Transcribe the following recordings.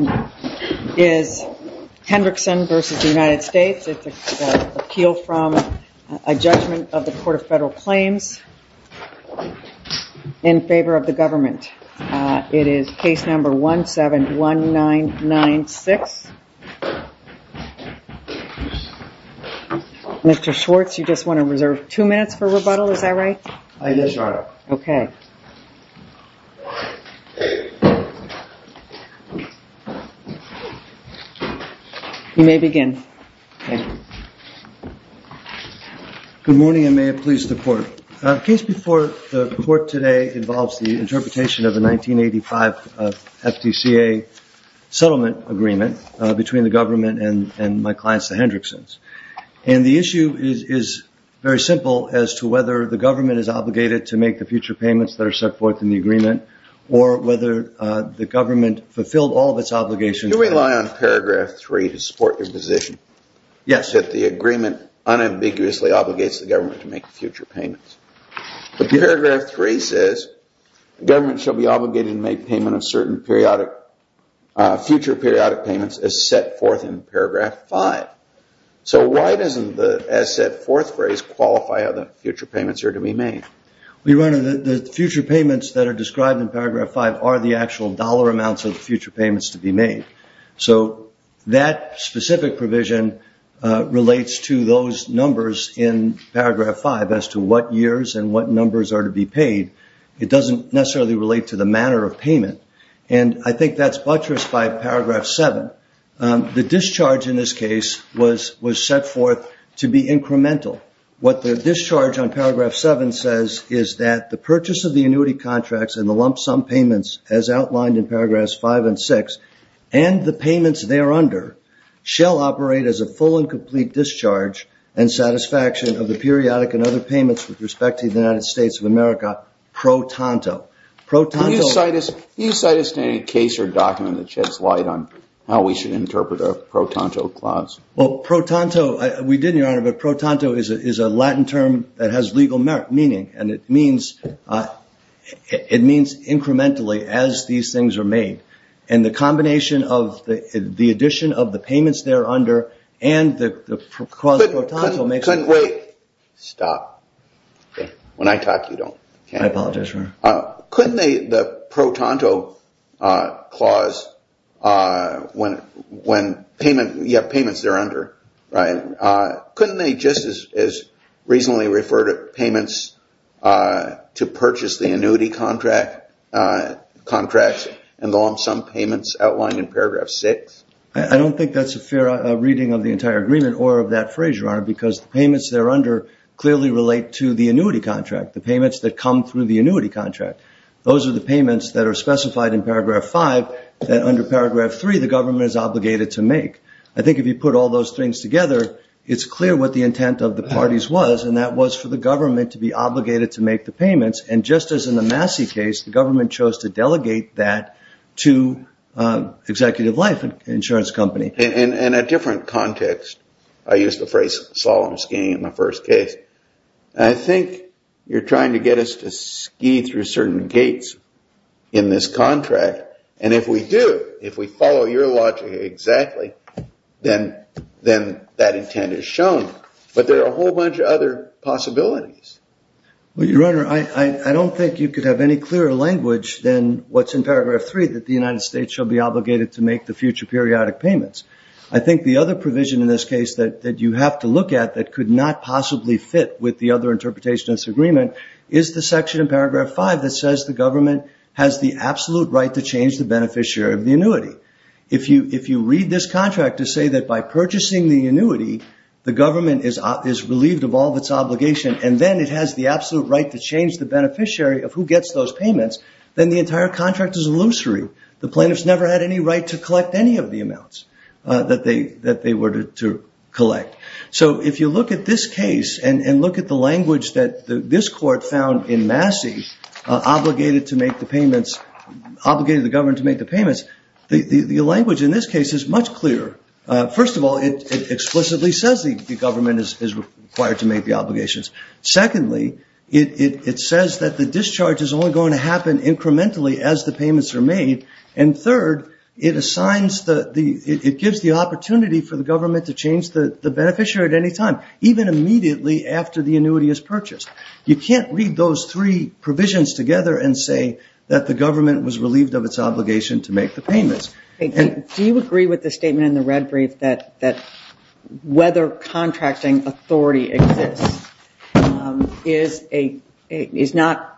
It's an appeal from a judgment of the Court of Federal Claims in favor of the government. It is case number 171996. Mr. Schwartz, you just want to reserve two minutes for rebuttal, is that right? Yes, Your Honor. Okay. You may begin. Good morning, and may it please the Court. The case before the Court today involves the interpretation of the 1985 FDCA settlement agreement between the government and my client, the Hendricksons. And the issue is very simple as to whether the government is obligated to make the future payments that are set forth in the agreement or whether the government fulfilled all of its obligations. Do we rely on paragraph 3 to support your position? Yes. That the agreement unambiguously obligates the government to make future payments. But paragraph 3 says the government shall be obligated to make payment of certain future periodic payments as set forth in paragraph 5. So why doesn't the as-set-forth phrase qualify how the future payments are to be made? Your Honor, the future payments that are described in paragraph 5 are the actual dollar amounts of the future payments to be made. So that specific provision relates to those numbers in paragraph 5 as to what years and what numbers are to be paid. It doesn't necessarily relate to the manner of payment. And I think that's buttressed by paragraph 7. The discharge in this case was set forth to be incremental. What the discharge on paragraph 7 says is that the purchase of the annuity contracts and the lump sum payments, as outlined in paragraphs 5 and 6, and the payments thereunder shall operate as a full and complete discharge and satisfaction of the periodic and other payments with respect to the United States of America pro tanto. Can you cite us to any case or document that sheds light on how we should interpret a pro tanto clause? Well, pro tanto, we did, Your Honor, but pro tanto is a Latin term that has legal meaning. And it means incrementally as these things are made. And the combination of the addition of the payments thereunder and the clause pro tanto makes it. Wait. Stop. When I talk, you don't. I apologize, Your Honor. Couldn't they, the pro tanto clause, when you have payments thereunder, couldn't they just as reasonably refer to payments to purchase the annuity contracts and the lump sum payments outlined in paragraph 6? I don't think that's a fair reading of the entire agreement or of that phrase, Your Honor, because the payments thereunder clearly relate to the annuity contract, the payments that come through the annuity contract. Those are the payments that are specified in paragraph 5 that under paragraph 3 the government is obligated to make. I think if you put all those things together, it's clear what the intent of the parties was, and that was for the government to be obligated to make the payments. And just as in the Massey case, the government chose to delegate that to Executive Life, an insurance company. In a different context, I used the phrase solemn skiing in the first case. I think you're trying to get us to ski through certain gates in this contract. And if we do, if we follow your logic exactly, then that intent is shown. But there are a whole bunch of other possibilities. Well, Your Honor, I don't think you could have any clearer language than what's in paragraph 3, that the United States shall be obligated to make the future periodic payments. I think the other provision in this case that you have to look at that could not possibly fit with the other interpretation of this agreement is the section in paragraph 5 that says the government has the absolute right to change the beneficiary of the annuity. If you read this contract to say that by purchasing the annuity, the government is relieved of all its obligation, and then it has the absolute right to change the beneficiary of who gets those payments, then the entire contract is illusory. The plaintiffs never had any right to collect any of the amounts that they were to collect. So if you look at this case and look at the language that this court found in Massey, obligated the government to make the payments, the language in this case is much clearer. First of all, it explicitly says the government is required to make the obligations. Secondly, it says that the discharge is only going to happen incrementally as the payments are made. And third, it gives the opportunity for the government to change the beneficiary at any time, even immediately after the annuity is purchased. You can't read those three provisions together and say that the government was relieved of its obligation to make the payments. Do you agree with the statement in the red brief that whether contracting authority exists is not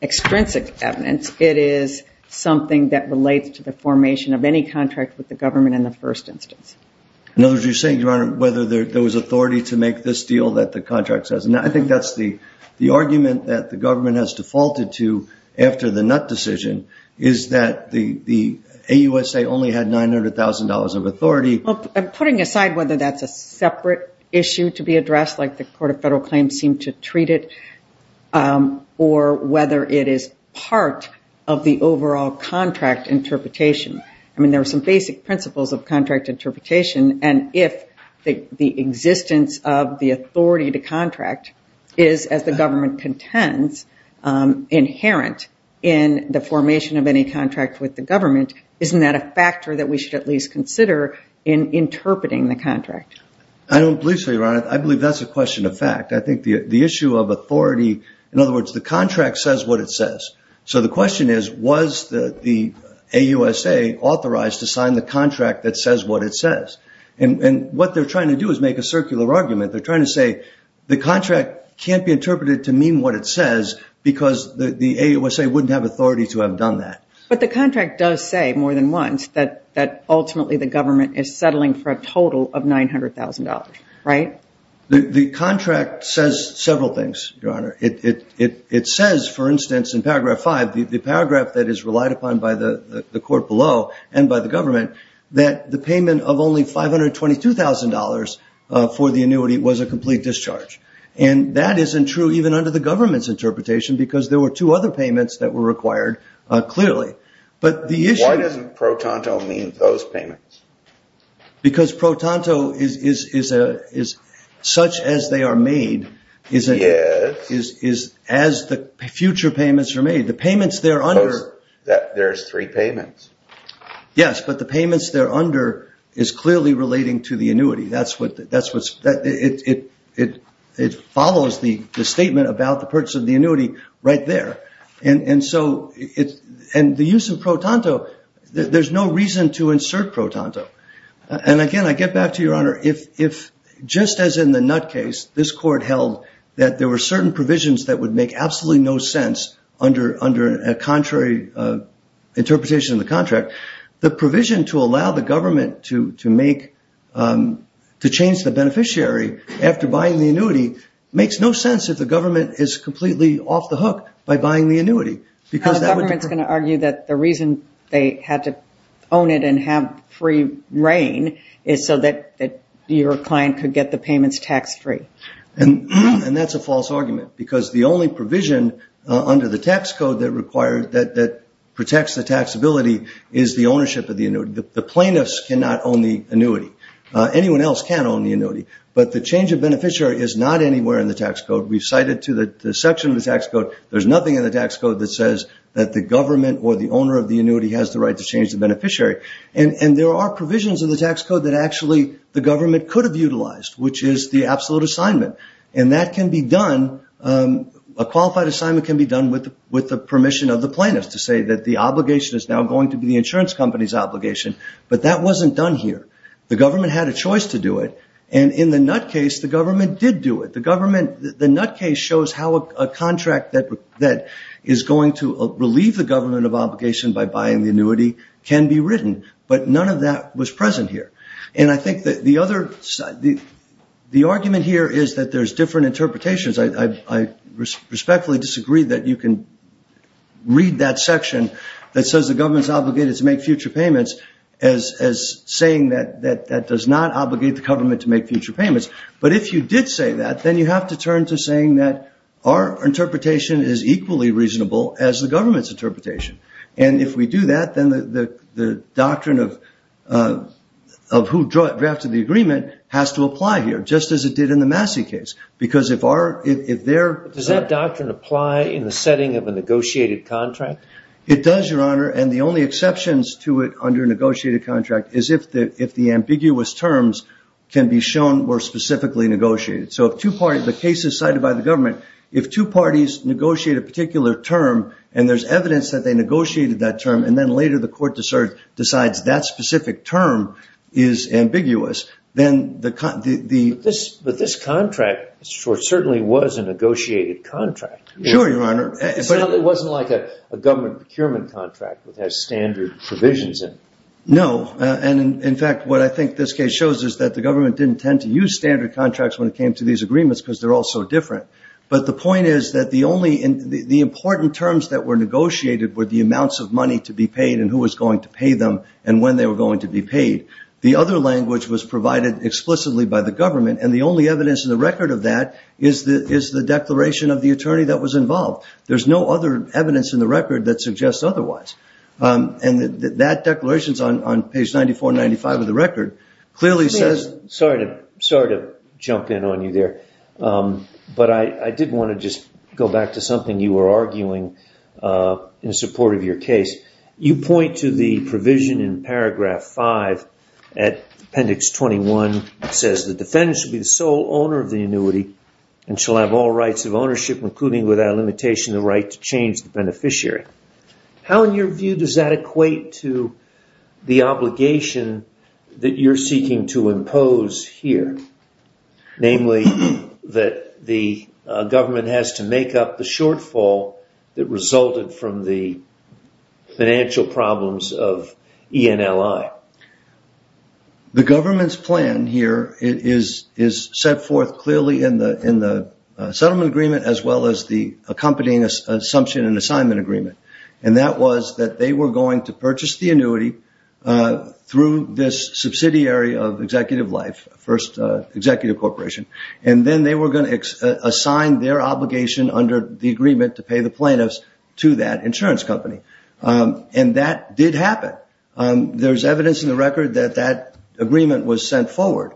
extrinsic evidence. It is something that relates to the formation of any contract with the government in the first instance. In other words, you're saying, Your Honor, whether there was authority to make this deal that the contract says. I think that's the argument that the government has defaulted to after the Nutt decision, is that the AUSA only had $900,000 of authority. I'm putting aside whether that's a separate issue to be addressed, like the Court of Federal Claims seemed to treat it, or whether it is part of the overall contract interpretation. I mean, there are some basic principles of contract interpretation. And if the existence of the authority to contract is, as the government contends, inherent in the formation of any contract with the government, isn't that a factor that we should at least consider in interpreting the contract? I don't believe so, Your Honor. I believe that's a question of fact. I think the issue of authority, in other words, the contract says what it says. So the question is, was the AUSA authorized to sign the contract that says what it says? And what they're trying to do is make a circular argument. They're trying to say the contract can't be interpreted to mean what it says because the AUSA wouldn't have authority to have done that. But the contract does say, more than once, that ultimately the government is settling for a total of $900,000, right? The contract says several things, Your Honor. It says, for instance, in paragraph five, the paragraph that is relied upon by the court below and by the government, that the payment of only $522,000 for the annuity was a complete discharge. And that isn't true even under the government's interpretation because there were two other payments that were required clearly. But the issue- Why doesn't pro tanto mean those payments? Because pro tanto is such as they are made- Yes. Is as the future payments are made. The payments there under- There's three payments. Yes, but the payments there under is clearly relating to the annuity. That's what's- it follows the statement about the purchase of the annuity right there. And so the use of pro tanto, there's no reason to insert pro tanto. And again, I get back to you, Your Honor. If just as in the Nutt case, this court held that there were certain provisions that would make absolutely no sense under a contrary interpretation of the contract, the provision to allow the government to change the beneficiary after buying the annuity makes no sense if the government is completely off the hook by buying the annuity. The government's going to argue that the reason they had to own it and have free reign is so that your client could get the payments tax-free. And that's a false argument because the only provision under the tax code that protects the taxability is the ownership of the annuity. The plaintiffs cannot own the annuity. Anyone else can own the annuity. But the change of beneficiary is not anywhere in the tax code. We cite it to the section of the tax code. There's nothing in the tax code that says that the government or the owner of the annuity has the right to change the beneficiary. And there are provisions in the tax code that actually the government could have utilized, which is the absolute assignment. And that can be done- a qualified assignment can be done with the permission of the plaintiffs to say that the obligation is now going to be the insurance company's obligation. But that wasn't done here. The government had a choice to do it. And in the Nutt case, the government did do it. The government- the Nutt case shows how a contract that is going to relieve the government of obligation by buying the annuity can be written. But none of that was present here. And I think that the other- the argument here is that there's different interpretations. I respectfully disagree that you can read that section that says the government's obligated to make future payments as saying that that does not obligate the government to make future payments. But if you did say that, then you have to turn to saying that our interpretation is equally reasonable as the government's interpretation. And if we do that, then the doctrine of who drafted the agreement has to apply here, just as it did in the Massey case. Because if our- if their- Does that doctrine apply in the setting of a negotiated contract? It does, Your Honor. And the only exceptions to it under a negotiated contract is if the ambiguous terms can be shown were specifically negotiated. So if two parties- the case is cited by the government. If two parties negotiate a particular term, and there's evidence that they negotiated that term, and then later the court decides that specific term is ambiguous, then the- But this contract certainly was a negotiated contract. Sure, Your Honor. But it wasn't like a government procurement contract that has standard provisions in it. No. And in fact, what I think this case shows is that the government didn't tend to use standard contracts when it came to these agreements because they're all so different. But the point is that the only- the important terms that were negotiated were the amounts of money to be paid and who was going to pay them and when they were going to be paid. The other language was provided explicitly by the government, and the only evidence in the record of that is the declaration of the attorney that was involved. There's no other evidence in the record that suggests otherwise. And that declaration is on page 94 and 95 of the record. Clearly says- Sorry to jump in on you there, but I did want to just go back to something you were arguing in support of your case. You point to the provision in paragraph 5 at appendix 21 that says, The defendant shall be the sole owner of the annuity and shall have all rights of ownership, including without limitation the right to change the beneficiary. How, in your view, does that equate to the obligation that you're seeking to impose here? Namely, that the government has to make up the shortfall that resulted from the financial problems of ENLI. The government's plan here is set forth clearly in the settlement agreement as well as the accompanying assumption and assignment agreement. And that was that they were going to purchase the annuity through this subsidiary of Executive Life, first executive corporation, and then they were going to assign their obligation under the agreement to pay the plaintiffs to that insurance company. And that did happen. There's evidence in the record that that agreement was sent forward.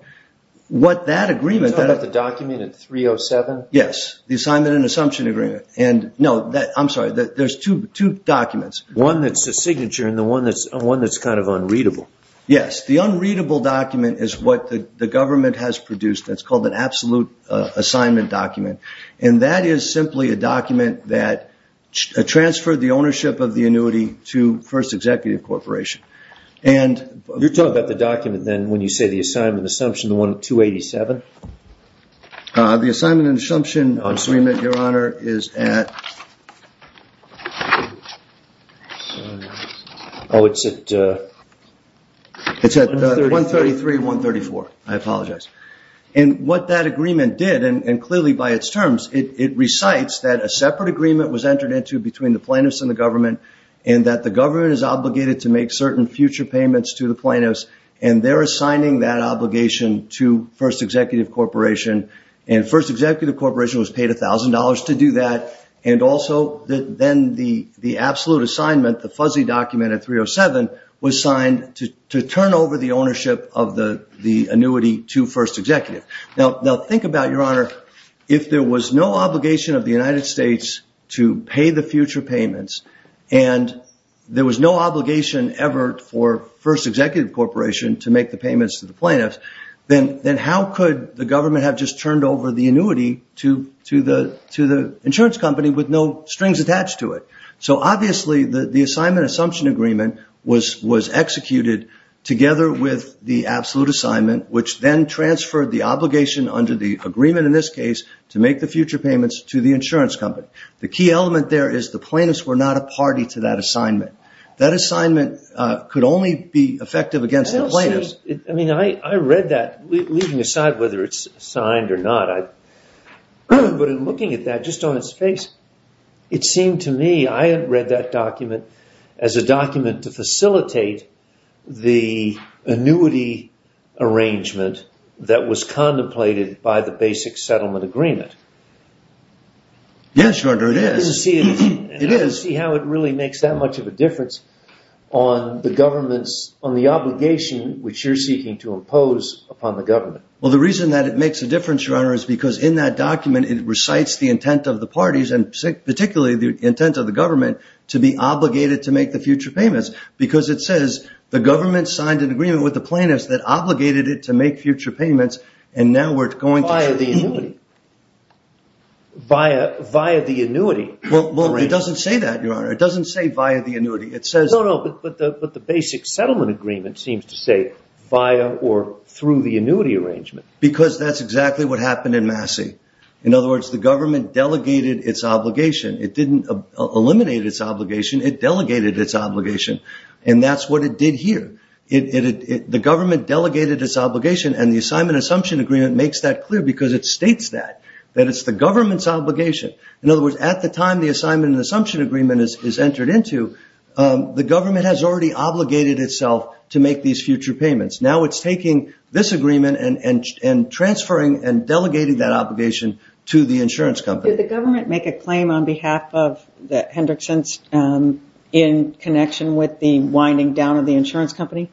What that agreement- Are you talking about the document in 307? Yes, the assignment and assumption agreement. I'm sorry, there's two documents. One that's a signature and one that's kind of unreadable. Yes, the unreadable document is what the government has produced. It's called an absolute assignment document. And that is simply a document that transferred the ownership of the annuity to first executive corporation. You're talking about the document, then, when you say the assignment and assumption, the one at 287? The assignment and assumption agreement, Your Honor, is at- Oh, it's at- It's at 133, 134. I apologize. And what that agreement did, and clearly by its terms, it recites that a separate agreement was entered into between the plaintiffs and the government and that the government is obligated to make certain future payments to the plaintiffs, and they're assigning that obligation to first executive corporation, and first executive corporation was paid $1,000 to do that, and also then the absolute assignment, the fuzzy document at 307, was signed to turn over the ownership of the annuity to first executive. Now, think about it, Your Honor. If there was no obligation of the United States to pay the future payments and there was no obligation ever for first executive corporation to make the payments to the plaintiffs, then how could the government have just turned over the annuity to the insurance company with no strings attached to it? So, obviously, the assignment assumption agreement was executed together with the absolute assignment, which then transferred the obligation under the agreement in this case to make the future payments to the insurance company. The key element there is the plaintiffs were not a party to that assignment. That assignment could only be effective against the plaintiffs. I read that, leaving aside whether it's signed or not, but in looking at that, just on its face, it seemed to me I had read that document as a document to facilitate the annuity arrangement that was contemplated by the basic settlement agreement. Yes, Your Honor, it is. I see how it really makes that much of a difference on the government's, on the obligation which you're seeking to impose upon the government. Well, the reason that it makes a difference, Your Honor, is because in that document it recites the intent of the parties and particularly the intent of the government to be obligated to make the future payments because it says the government signed an agreement with the plaintiffs that obligated it to make future payments Via the annuity. Via the annuity. Well, it doesn't say that, Your Honor. It doesn't say via the annuity. No, no, but the basic settlement agreement seems to say via or through the annuity arrangement. Because that's exactly what happened in Massey. In other words, the government delegated its obligation. It didn't eliminate its obligation. It delegated its obligation. And that's what it did here. The government delegated its obligation and the Assignment Assumption Agreement makes that clear because it states that. That it's the government's obligation. In other words, at the time the Assignment Assumption Agreement is entered into, the government has already obligated itself to make these future payments. Now it's taking this agreement and transferring and delegating that obligation to the insurance company. Did the government make a claim on behalf of the Hendricksons in connection with the winding down of the insurance company?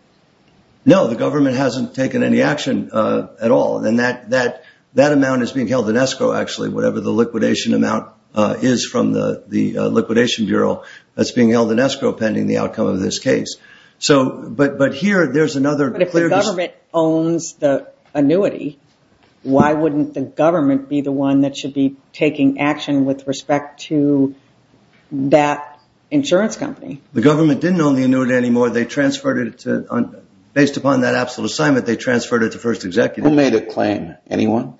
No, the government hasn't taken any action at all. And that amount is being held in escrow, actually. Whatever the liquidation amount is from the Liquidation Bureau, that's being held in escrow pending the outcome of this case. But if the government owns the annuity, why wouldn't the government be the one that should be taking action with respect to that insurance company? The government didn't own the annuity anymore. Based upon that absolute assignment, they transferred it to first executives. Who made a claim? Anyone?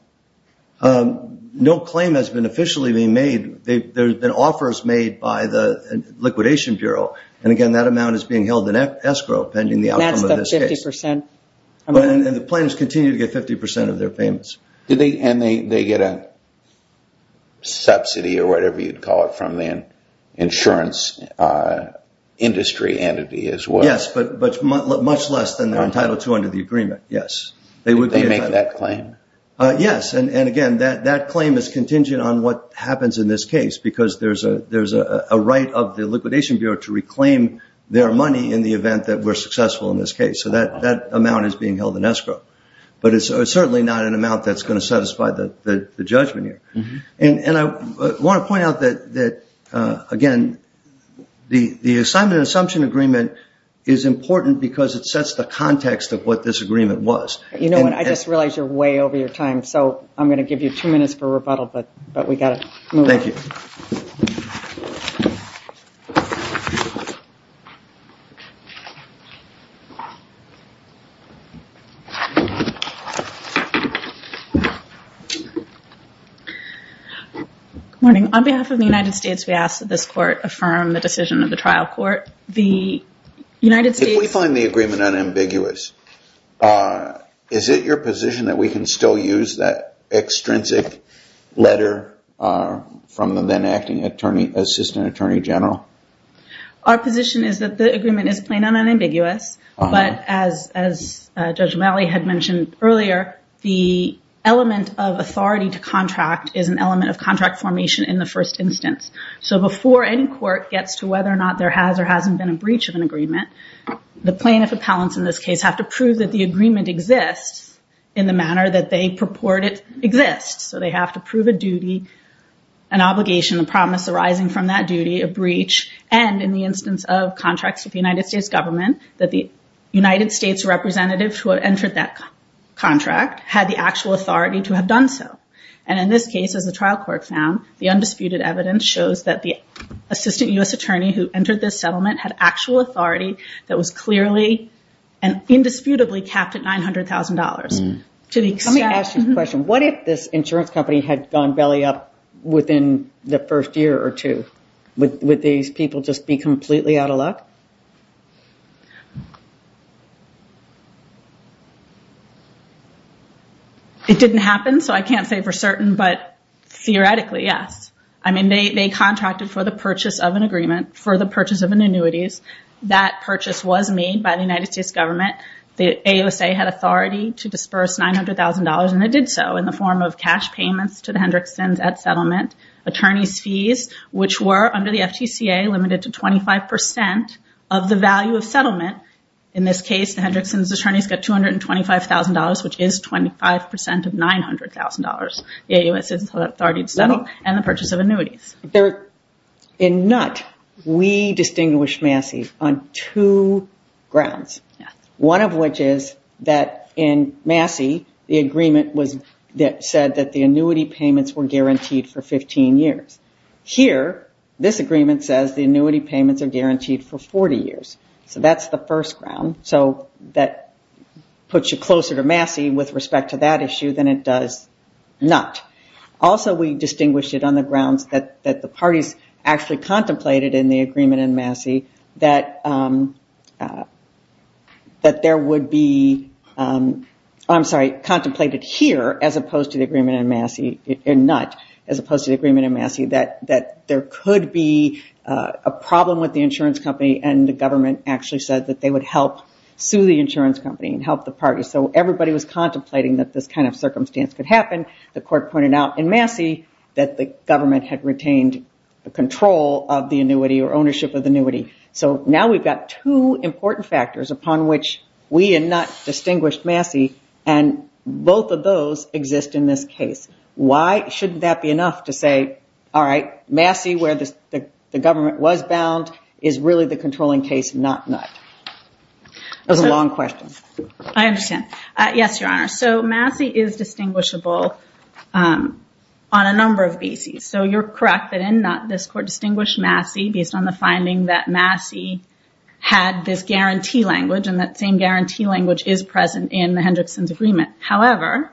No claim has been officially made. There have been offers made by the Liquidation Bureau. And again, that amount is being held in escrow pending the outcome of this case. And the plaintiffs continue to get 50% of their payments. And they get a subsidy or whatever you'd call it from the insurance industry entity as well. Yes, but much less than they're entitled to under the agreement, yes. Did they make that claim? Yes, and again, that claim is contingent on what happens in this case because there's a right of the Liquidation Bureau to reclaim their money in the event that we're successful in this case. So that amount is being held in escrow. But it's certainly not an amount that's going to satisfy the judgment here. And I want to point out that, again, the assignment and assumption agreement is important because it sets the context of what this agreement was. You know what, I just realized you're way over your time. So I'm going to give you two minutes for rebuttal, but we've got to move on. Thank you. Good morning. On behalf of the United States, we ask that this court affirm the decision of the trial court. If we find the agreement unambiguous, is it your position that we can still use that extrinsic letter from the then acting assistant attorney general? Our position is that the agreement is plain and unambiguous. But as Judge O'Malley had mentioned earlier, the element of authority to contract is an element of contract formation in the first instance. So before any court gets to whether or not there has or hasn't been a breach of an agreement, the plaintiff appellants in this case have to prove that the agreement exists in the manner that they purport it exists. So they have to prove a duty, an obligation, a promise arising from that duty, a breach, and in the instance of contracts with the United States government, that the United States representative who entered that contract had the actual authority to have done so. And in this case, as the trial court found, the undisputed evidence shows that the assistant U.S. attorney who entered this settlement had actual authority that was clearly and indisputably capped at $900,000. Let me ask you a question. What if this insurance company had gone belly up within the first year or two? Would these people just be completely out of luck? It didn't happen, so I can't say for certain. But theoretically, yes. I mean, they contracted for the purchase of an agreement, for the purchase of annuities. That purchase was made by the United States government. The AUSA had authority to disperse $900,000, and they did so in the form of cash payments to the Hendrickson's at settlement, attorney's fees, which were under the FTCA limited to 25% of the value of settlement. In this case, the Hendrickson's attorney's got $225,000, which is 25% of $900,000. The AUSA has authority to settle and the purchase of annuities. In NUT, we distinguish Massey on two grounds, one of which is that in Massey, the agreement said that the annuity payments were guaranteed for 15 years. Here, this agreement says the annuity payments are guaranteed for 40 years. So that's the first ground. So that puts you closer to Massey with respect to that issue than it does NUT. Also, we distinguish it on the grounds that the parties actually contemplated in the agreement in Massey that there would be – I'm sorry, contemplated here as opposed to the agreement in Massey, in NUT, as opposed to the agreement in Massey, that there could be a problem with the insurance company, and the government actually said that they would help sue the insurance company and help the party. So everybody was contemplating that this kind of circumstance could happen. The court pointed out in Massey that the government had retained the control of the annuity or ownership of the annuity. So now we've got two important factors upon which we in NUT distinguish Massey, and both of those exist in this case. That was a long question. I understand. Yes, Your Honor. So Massey is distinguishable on a number of bases. So you're correct that in NUT, this court distinguished Massey based on the finding that Massey had this guarantee language, and that same guarantee language is present in the Hendrickson's agreement. However,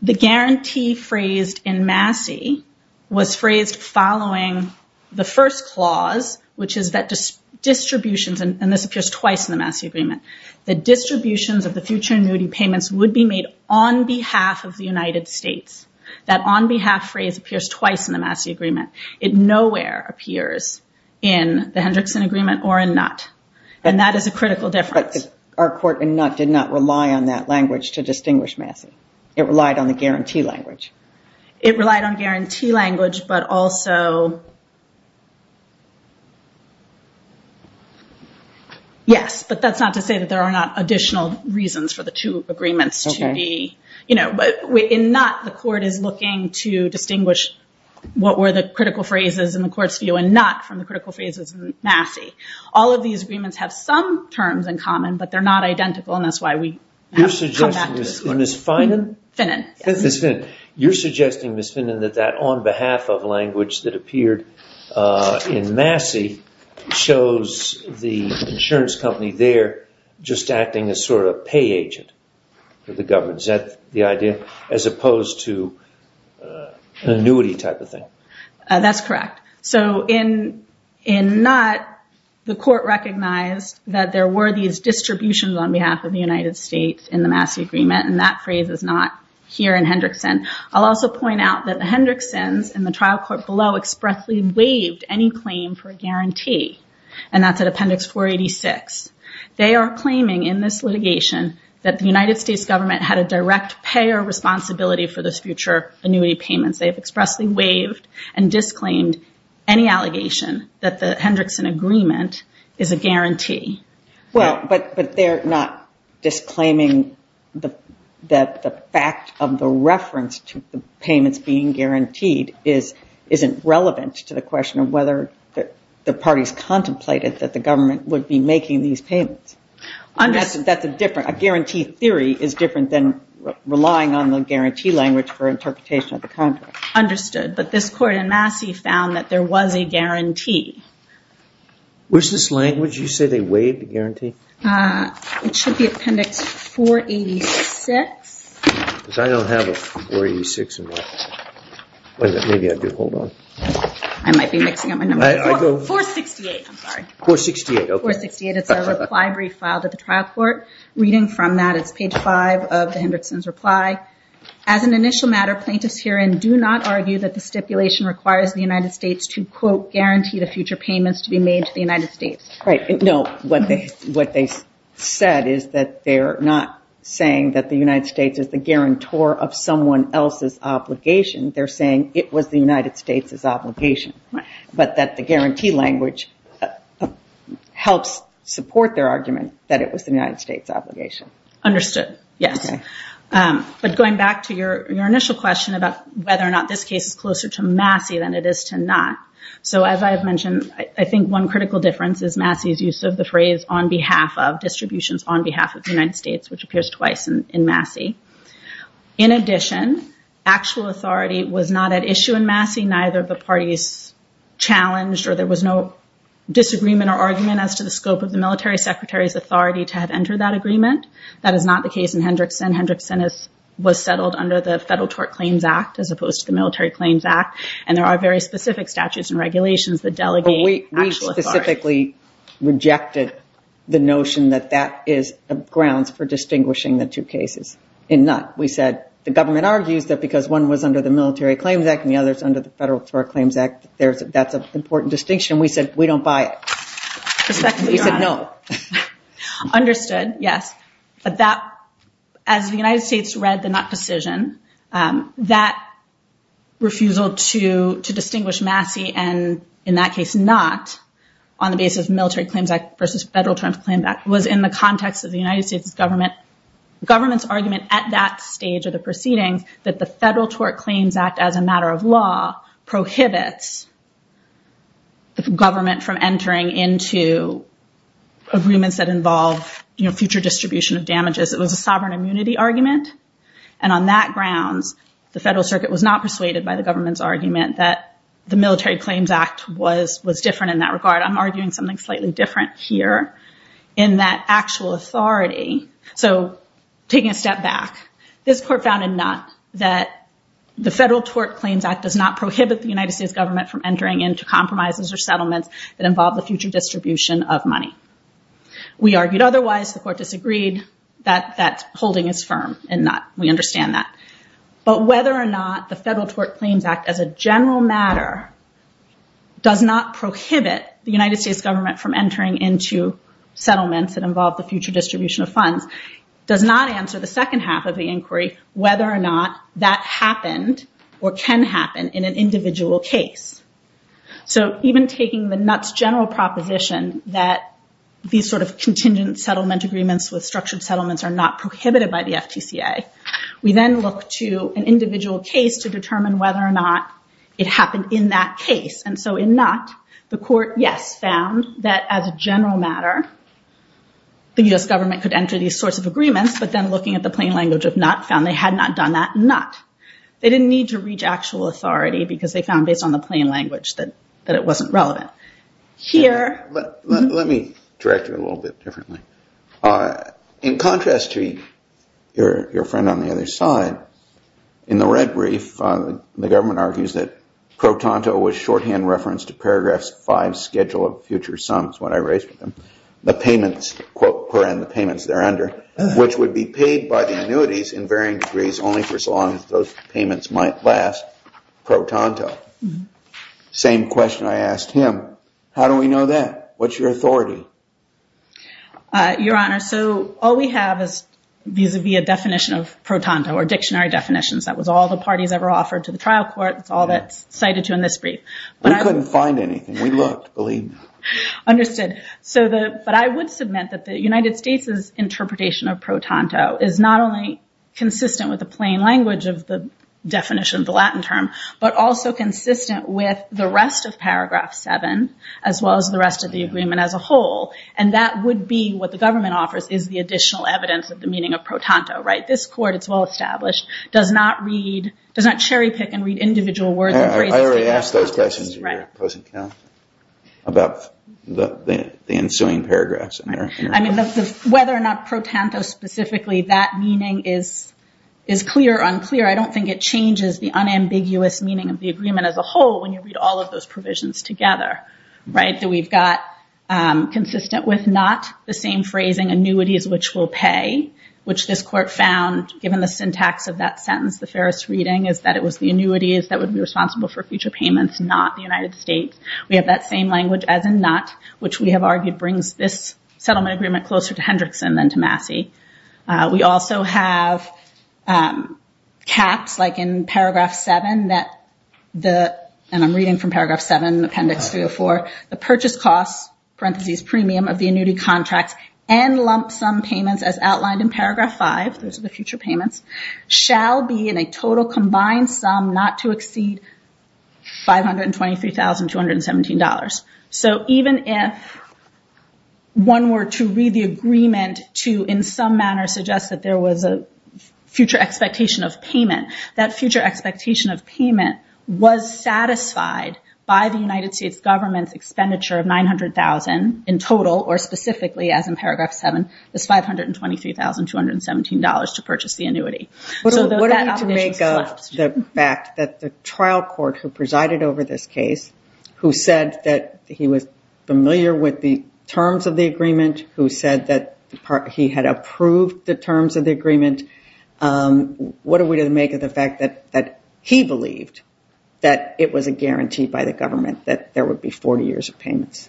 the guarantee phrased in Massey was phrased following the first clause, which is that distributions – and this appears twice in the Massey agreement – that distributions of the future annuity payments would be made on behalf of the United States. That on behalf phrase appears twice in the Massey agreement. It nowhere appears in the Hendrickson agreement or in NUT, and that is a critical difference. But our court in NUT did not rely on that language to distinguish Massey. It relied on the guarantee language. It relied on guarantee language, but also – yes, but that's not to say that there are not additional reasons for the two agreements to be – in NUT, the court is looking to distinguish what were the critical phrases in the court's view and NUT from the critical phrases in Massey. All of these agreements have some terms in common, but they're not identical, and that's why we have to come back to this court. You're suggesting, Ms. Finan? Finan, yes. Ms. Finan, you're suggesting, Ms. Finan, that that on behalf of language that appeared in Massey shows the insurance company there just acting as sort of a pay agent for the government. Is that the idea as opposed to an annuity type of thing? That's correct. So in NUT, the court recognized that there were these distributions on behalf of the United States in the Massey agreement, and that phrase is not here in Hendrickson. I'll also point out that the Hendricksons in the trial court below expressly waived any claim for a guarantee, and that's at Appendix 486. They are claiming in this litigation that the United States government had a direct payer responsibility for this future annuity payments. They have expressly waived and disclaimed any allegation that the Hendrickson agreement is a guarantee. Well, but they're not disclaiming that the fact of the reference to the payments being guaranteed isn't relevant to the question of whether the parties contemplated that the government would be making these payments. That's a different guarantee theory is different than relying on the guarantee language for interpretation of the contract. Understood. But this court in Massey found that there was a guarantee. Where's this language? You say they waived a guarantee? It should be Appendix 486. Because I don't have a 486. Maybe I do. Hold on. I might be mixing up my numbers. 468, I'm sorry. 468, okay. 468. It's a reply brief filed at the trial court. Reading from that, it's page 5 of the Hendrickson's reply. As an initial matter, plaintiffs herein do not argue that the stipulation requires the United States to, quote, guarantee the future payments to be made to the United States. Right. No, what they said is that they're not saying that the United States is the guarantor of someone else's obligation. They're saying it was the United States' obligation, but that the guarantee language helps support their argument that it was the United States' obligation. Understood. Yes. Okay. But going back to your initial question about whether or not this case is closer to Massey than it is to not, so as I've mentioned, I think one critical difference is Massey's use of the phrase on behalf of distributions on behalf of the United States, which appears twice in Massey. In addition, actual authority was not at issue in Massey. Neither of the parties challenged or there was no disagreement or argument as to the scope of the military secretary's authority to have entered that agreement. That is not the case in Hendrickson. Hendrickson was settled under the Federal Tort Claims Act as opposed to the Military Claims Act, and there are very specific statutes and regulations that delegate actual authority. We specifically rejected the notion that that is grounds for distinguishing the two cases. We said the government argues that because one was under the Military Claims Act and the other is under the Federal Tort Claims Act, that's an important distinction. We said we don't buy it. Respectfully, Your Honor. We said no. Understood. Yes. But that, as the United States read the Knott decision, that refusal to distinguish Massey and, in that case, Knott on the basis of Military Claims Act versus Federal Tort Claims Act was in the context of the United States government's argument at that stage of the proceedings that the Federal Tort Claims Act, as a matter of law, prohibits the government from entering into agreements that involve future distribution of damages. It was a sovereign immunity argument, and on that grounds, the Federal Circuit was not persuaded by the government's argument that the Military Claims Act was different in that regard. I'm arguing something slightly different here in that actual authority. So taking a step back, this Court found in Knott that the Federal Tort Claims Act does not prohibit the United States government from entering into compromises or settlements that involve the future distribution of money. We argued otherwise. The Court disagreed that that holding is firm in Knott. We understand that. But whether or not the Federal Tort Claims Act, as a general matter, does not prohibit the United States government from entering into settlements that involve the future distribution of funds, does not answer the second half of the inquiry whether or not that happened or can happen in an individual case. So even taking the Knott's general proposition that these sort of contingent settlement agreements with structured settlements are not prohibited by the FTCA, we then look to an individual case to determine whether or not it happened in that case. And so in Knott, the Court, yes, found that as a general matter, the U.S. government could enter these sorts of agreements, but then looking at the plain language of Knott found they had not done that in Knott. They didn't need to reach actual authority because they found based on the plain language that it wasn't relevant. Let me direct you a little bit differently. In contrast to your friend on the other side, in the red brief, the government argues that pro tanto was shorthand reference to Paragraph 5's schedule of future sums when I raised them, the payments, quote, per end, the payments there under, which would be paid by the annuities in varying degrees only for so long as those payments might last, pro tanto. Same question I asked him. How do we know that? What's your authority? Your Honor, so all we have is vis-à-vis a definition of pro tanto or dictionary definitions. That was all the parties ever offered to the trial court. It's all that's cited to in this brief. We couldn't find anything. We looked, believe me. Understood. But I would submit that the United States' interpretation of pro tanto is not only consistent with the plain language of the definition of the Latin term, but also consistent with the rest of Paragraph 7 as well as the rest of the agreement as a whole, and that would be what the government offers is the additional evidence of the meaning of pro tanto, right? This Court, it's well established, does not read, does not cherry pick and read individual words and phrases. I already asked those questions about the ensuing paragraphs. I mean, whether or not pro tanto specifically, that meaning is clear or unclear, I don't think it changes the unambiguous meaning of the agreement as a whole when you read all of those provisions together, right, that we've got consistent with not the same phrasing, annuities which will pay, which this Court found, given the syntax of that sentence, the fairest reading, is that it was the annuities that would be responsible for future payments, not the United States. We have that same language as in not, which we have argued brings this settlement agreement closer to Hendrickson than to Massey. We also have caps, like in Paragraph 7, and I'm reading from Paragraph 7, Appendix 304, the purchase cost, parentheses, premium of the annuity contracts and lump sum payments as outlined in Paragraph 5, those are the future payments, shall be in a total combined sum not to exceed $523,217. So even if one were to read the agreement to, in some manner, suggest that there was a future expectation of payment, that future expectation of payment was satisfied by the United States government's expenditure of $900,000 in total, or specifically as in Paragraph 7, this $523,217 to purchase the annuity. What are we to make of the fact that the trial court who presided over this case, who said that he was familiar with the terms of the agreement, who said that he had approved the terms of the agreement, what are we to make of the fact that he believed that it was a guarantee by the court that there would be 40 years of payments?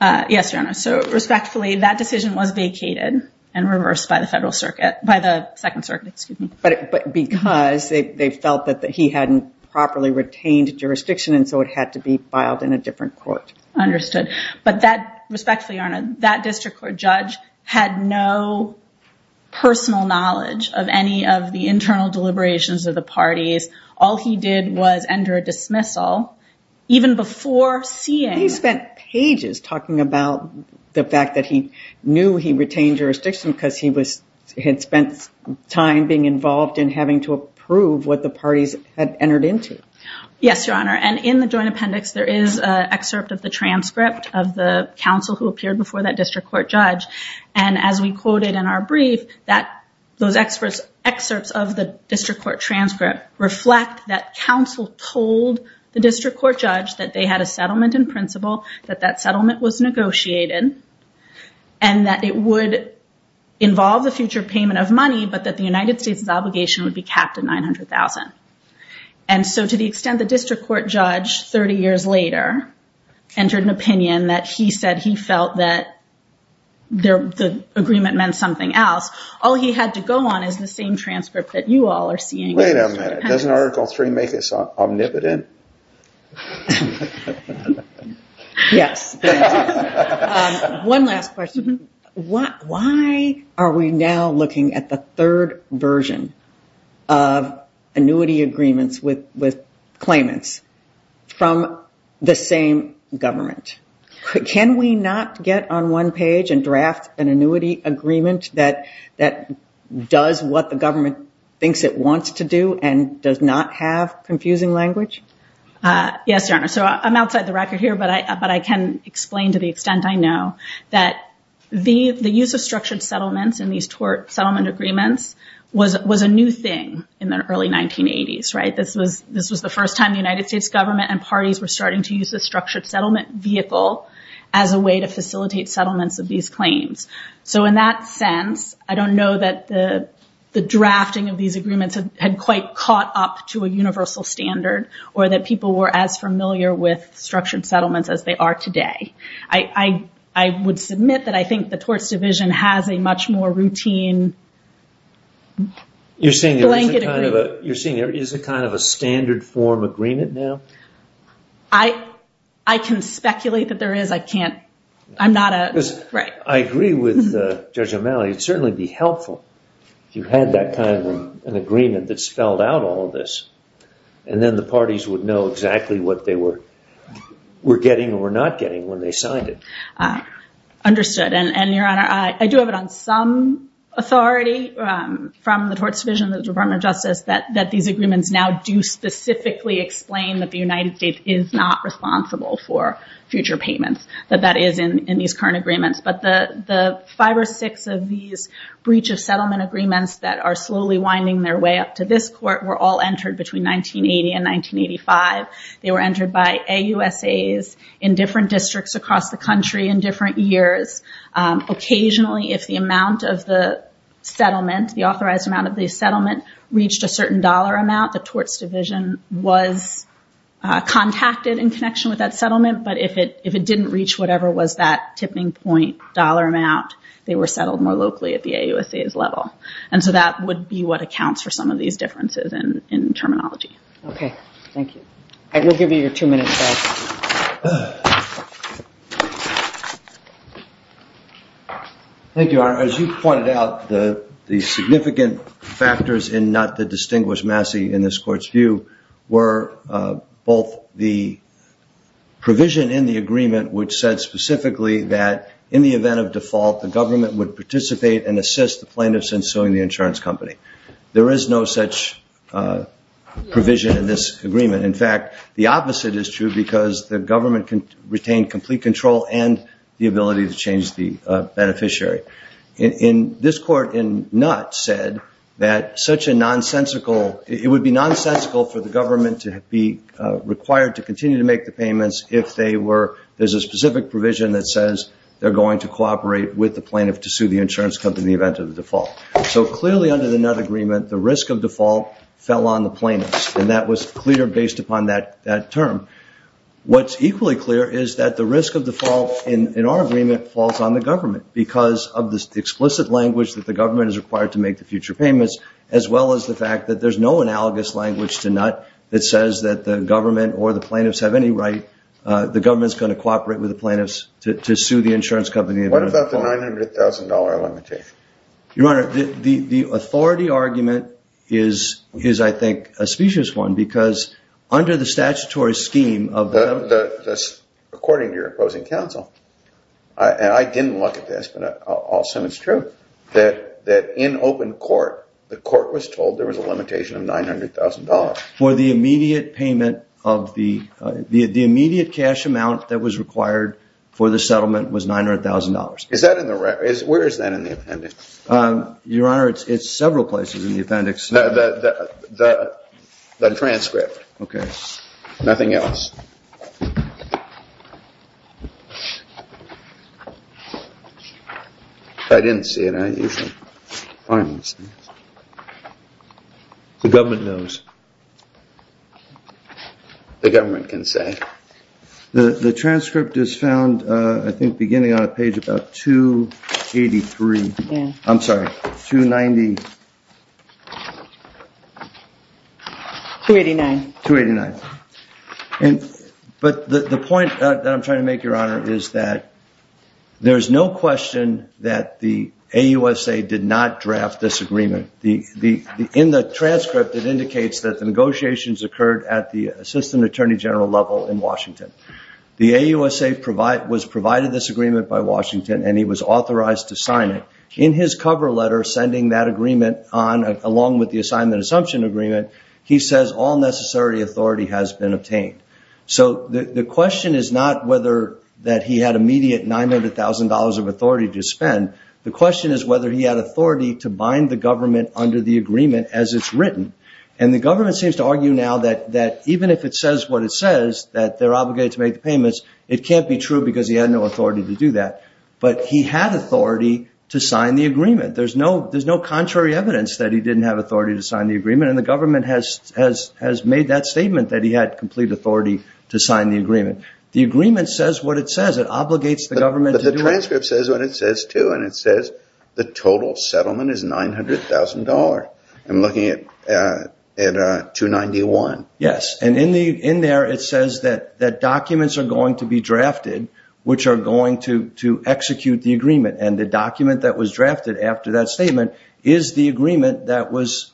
Yes, Your Honor. So respectfully, that decision was vacated and reversed by the second circuit. But because they felt that he hadn't properly retained jurisdiction and so it had to be filed in a different court. Understood. But respectfully, Your Honor, that district court judge had no personal knowledge of any of the internal deliberations of the parties. All he did was enter a dismissal. Even before seeing. He spent pages talking about the fact that he knew he retained jurisdiction because he had spent time being involved in having to approve what the parties had entered into. Yes, Your Honor. And in the joint appendix, there is an excerpt of the transcript of the counsel who appeared before that district court judge. And as we quoted in our brief, those excerpts of the district court transcript reflect that counsel told the district court judge that they had a settlement in principle, that that settlement was negotiated, and that it would involve the future payment of money, but that the United States' obligation would be capped at $900,000. And so to the extent the district court judge, 30 years later, entered an opinion that he said he felt that the agreement meant something else, all he had to go on is the same transcript that you all are seeing. Wait a minute. Doesn't Article III make us omnipotent? Yes. One last question. Why are we now looking at the third version of annuity agreements with claimants from the same government? Can we not get on one page and draft an annuity agreement that does what the amendment does not have, confusing language? Yes, Your Honor. So I'm outside the record here, but I can explain to the extent I know that the use of structured settlements in these tort settlement agreements was a new thing in the early 1980s, right? This was the first time the United States government and parties were starting to use the structured settlement vehicle as a way to facilitate settlements of these claims. So in that sense, I don't know that the drafting of these agreements had quite caught up to a universal standard, or that people were as familiar with structured settlements as they are today. I would submit that I think the torts division has a much more routine blanket agreement. You're saying there is a kind of a standard form agreement now? I can speculate that there is. I can't. I agree with Judge O'Malley. It would certainly be helpful if you had that kind of an agreement that spelled out all of this. And then the parties would know exactly what they were getting or not getting when they signed it. Understood. And, Your Honor, I do have it on some authority from the torts division and the Department of Justice that these agreements now do specifically explain that the United States is not responsible for future payments. That that is in these current agreements. But the five or six of these breach of settlement agreements that are slowly winding their way up to this court were all entered between 1980 and 1985. They were entered by AUSAs in different districts across the country in different years. Occasionally, if the amount of the settlement, the authorized amount of the settlement, the torts division was contacted in connection with that settlement. But if it didn't reach whatever was that tipping point dollar amount, they were settled more locally at the AUSAs level. And so that would be what accounts for some of these differences in terminology. Okay. Thank you. I will give you your two minutes back. Thank you, Your Honor. As you pointed out, the significant factors in not to distinguish Massey in this court's view were both the provision in the agreement, which said specifically that in the event of default, the government would participate and assist the plaintiffs in suing the insurance company. There is no such provision in this agreement. In fact, the opposite is true because the government can retain complete control and the ability to change the beneficiary. In this court in Nutt said that such a nonsensical, it would be nonsensical for the government to be required to continue to make the payments if they were, there's a specific provision that says they're going to cooperate with the plaintiff to sue the insurance company in the event of default. So clearly under the Nutt agreement, the risk of default fell on the plaintiffs. And that was clear based upon that term. What's equally clear is that the risk of default in our agreement falls on the government because of the explicit language that the government is There's no analogous language to Nutt that says that the government or the plaintiffs have any right. The government is going to cooperate with the plaintiffs to sue the insurance company. What about the $900,000 limitation? Your Honor, the authority argument is, I think, a specious one because under the statutory scheme of the, according to your opposing counsel, and I didn't look at this, but I'll assume it's true, that in open court, the court was told there was a limitation of $900,000. For the immediate payment of the, the immediate cash amount that was required for the settlement was $900,000. Is that in the, where is that in the appendix? Your Honor, it's several places in the appendix. The transcript. Okay. Nothing else. I didn't see it. The government knows. The government can say. The transcript is found, I think, beginning on a page about 283. I'm sorry, 290. 289. 289. But the point that I'm trying to make, Your Honor, is that there's no question that the AUSA did not draft this agreement. In the transcript, it indicates that the negotiations occurred at the assistant attorney general level in Washington. The AUSA was provided this agreement by Washington, and he was authorized to sign it. In his cover letter sending that agreement on, along with the assignment assumption agreement, he says all necessary authority has been obtained. So the question is not whether that he had immediate $900,000 of authority to spend. The question is whether he had authority to bind the government under the agreement as it's written. And the government seems to argue now that even if it says what it says, that they're obligated to make the payments, it can't be true because he had no authority to do that. But he had authority to sign the agreement. There's no contrary evidence that he didn't have authority to sign the agreement, and the government has made that statement that he had complete authority to sign the agreement. The agreement says what it says. It obligates the government to do it. But the transcript says what it says, too, and it says the total settlement is $900,000. I'm looking at 291. Yes, and in there it says that documents are going to be drafted, which are going to execute the agreement, and the document that was drafted after that statement is the agreement that was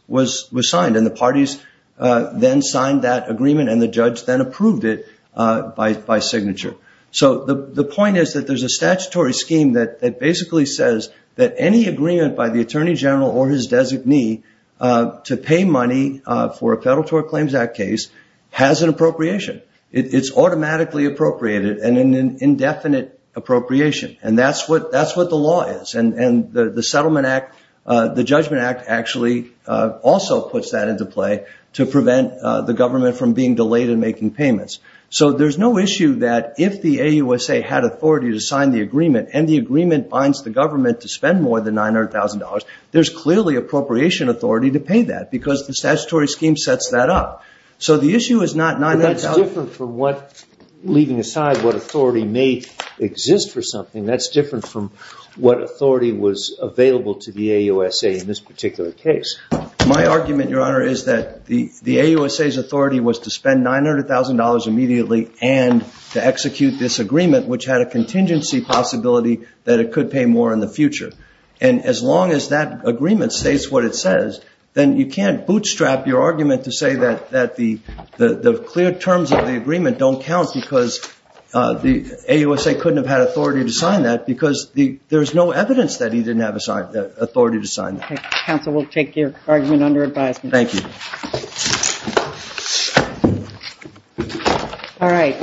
signed, and the parties then signed that agreement and the judge then approved it by signature. So the point is that there's a statutory scheme that basically says that any agreement by the Attorney General or his designee to pay money for a Federal Tort Claims Act case has an appropriation. It's automatically appropriated and an indefinite appropriation, and that's what the law is, and the Settlement Act, the Judgment Act, actually also puts that into play to prevent the government from being delayed in making payments. So there's no issue that if the AUSA had authority to sign the agreement and the agreement binds the government to spend more than $900,000, there's clearly appropriation authority to pay that because the statutory scheme sets that up. So the issue is not $900,000. That's different from what, leaving aside what authority may exist for something, that's different from what authority was available to the AUSA in this particular case. My argument, Your Honor, is that the AUSA's authority was to spend $900,000 immediately and to execute this agreement, which had a contingency possibility that it could pay more in the future. And as long as that agreement states what it says, then you can't bootstrap your argument to say that the clear terms of the agreement don't count because the AUSA couldn't have had authority to sign that because there's no evidence that he didn't have authority to sign that. Counsel will take your argument under advisement. Thank you.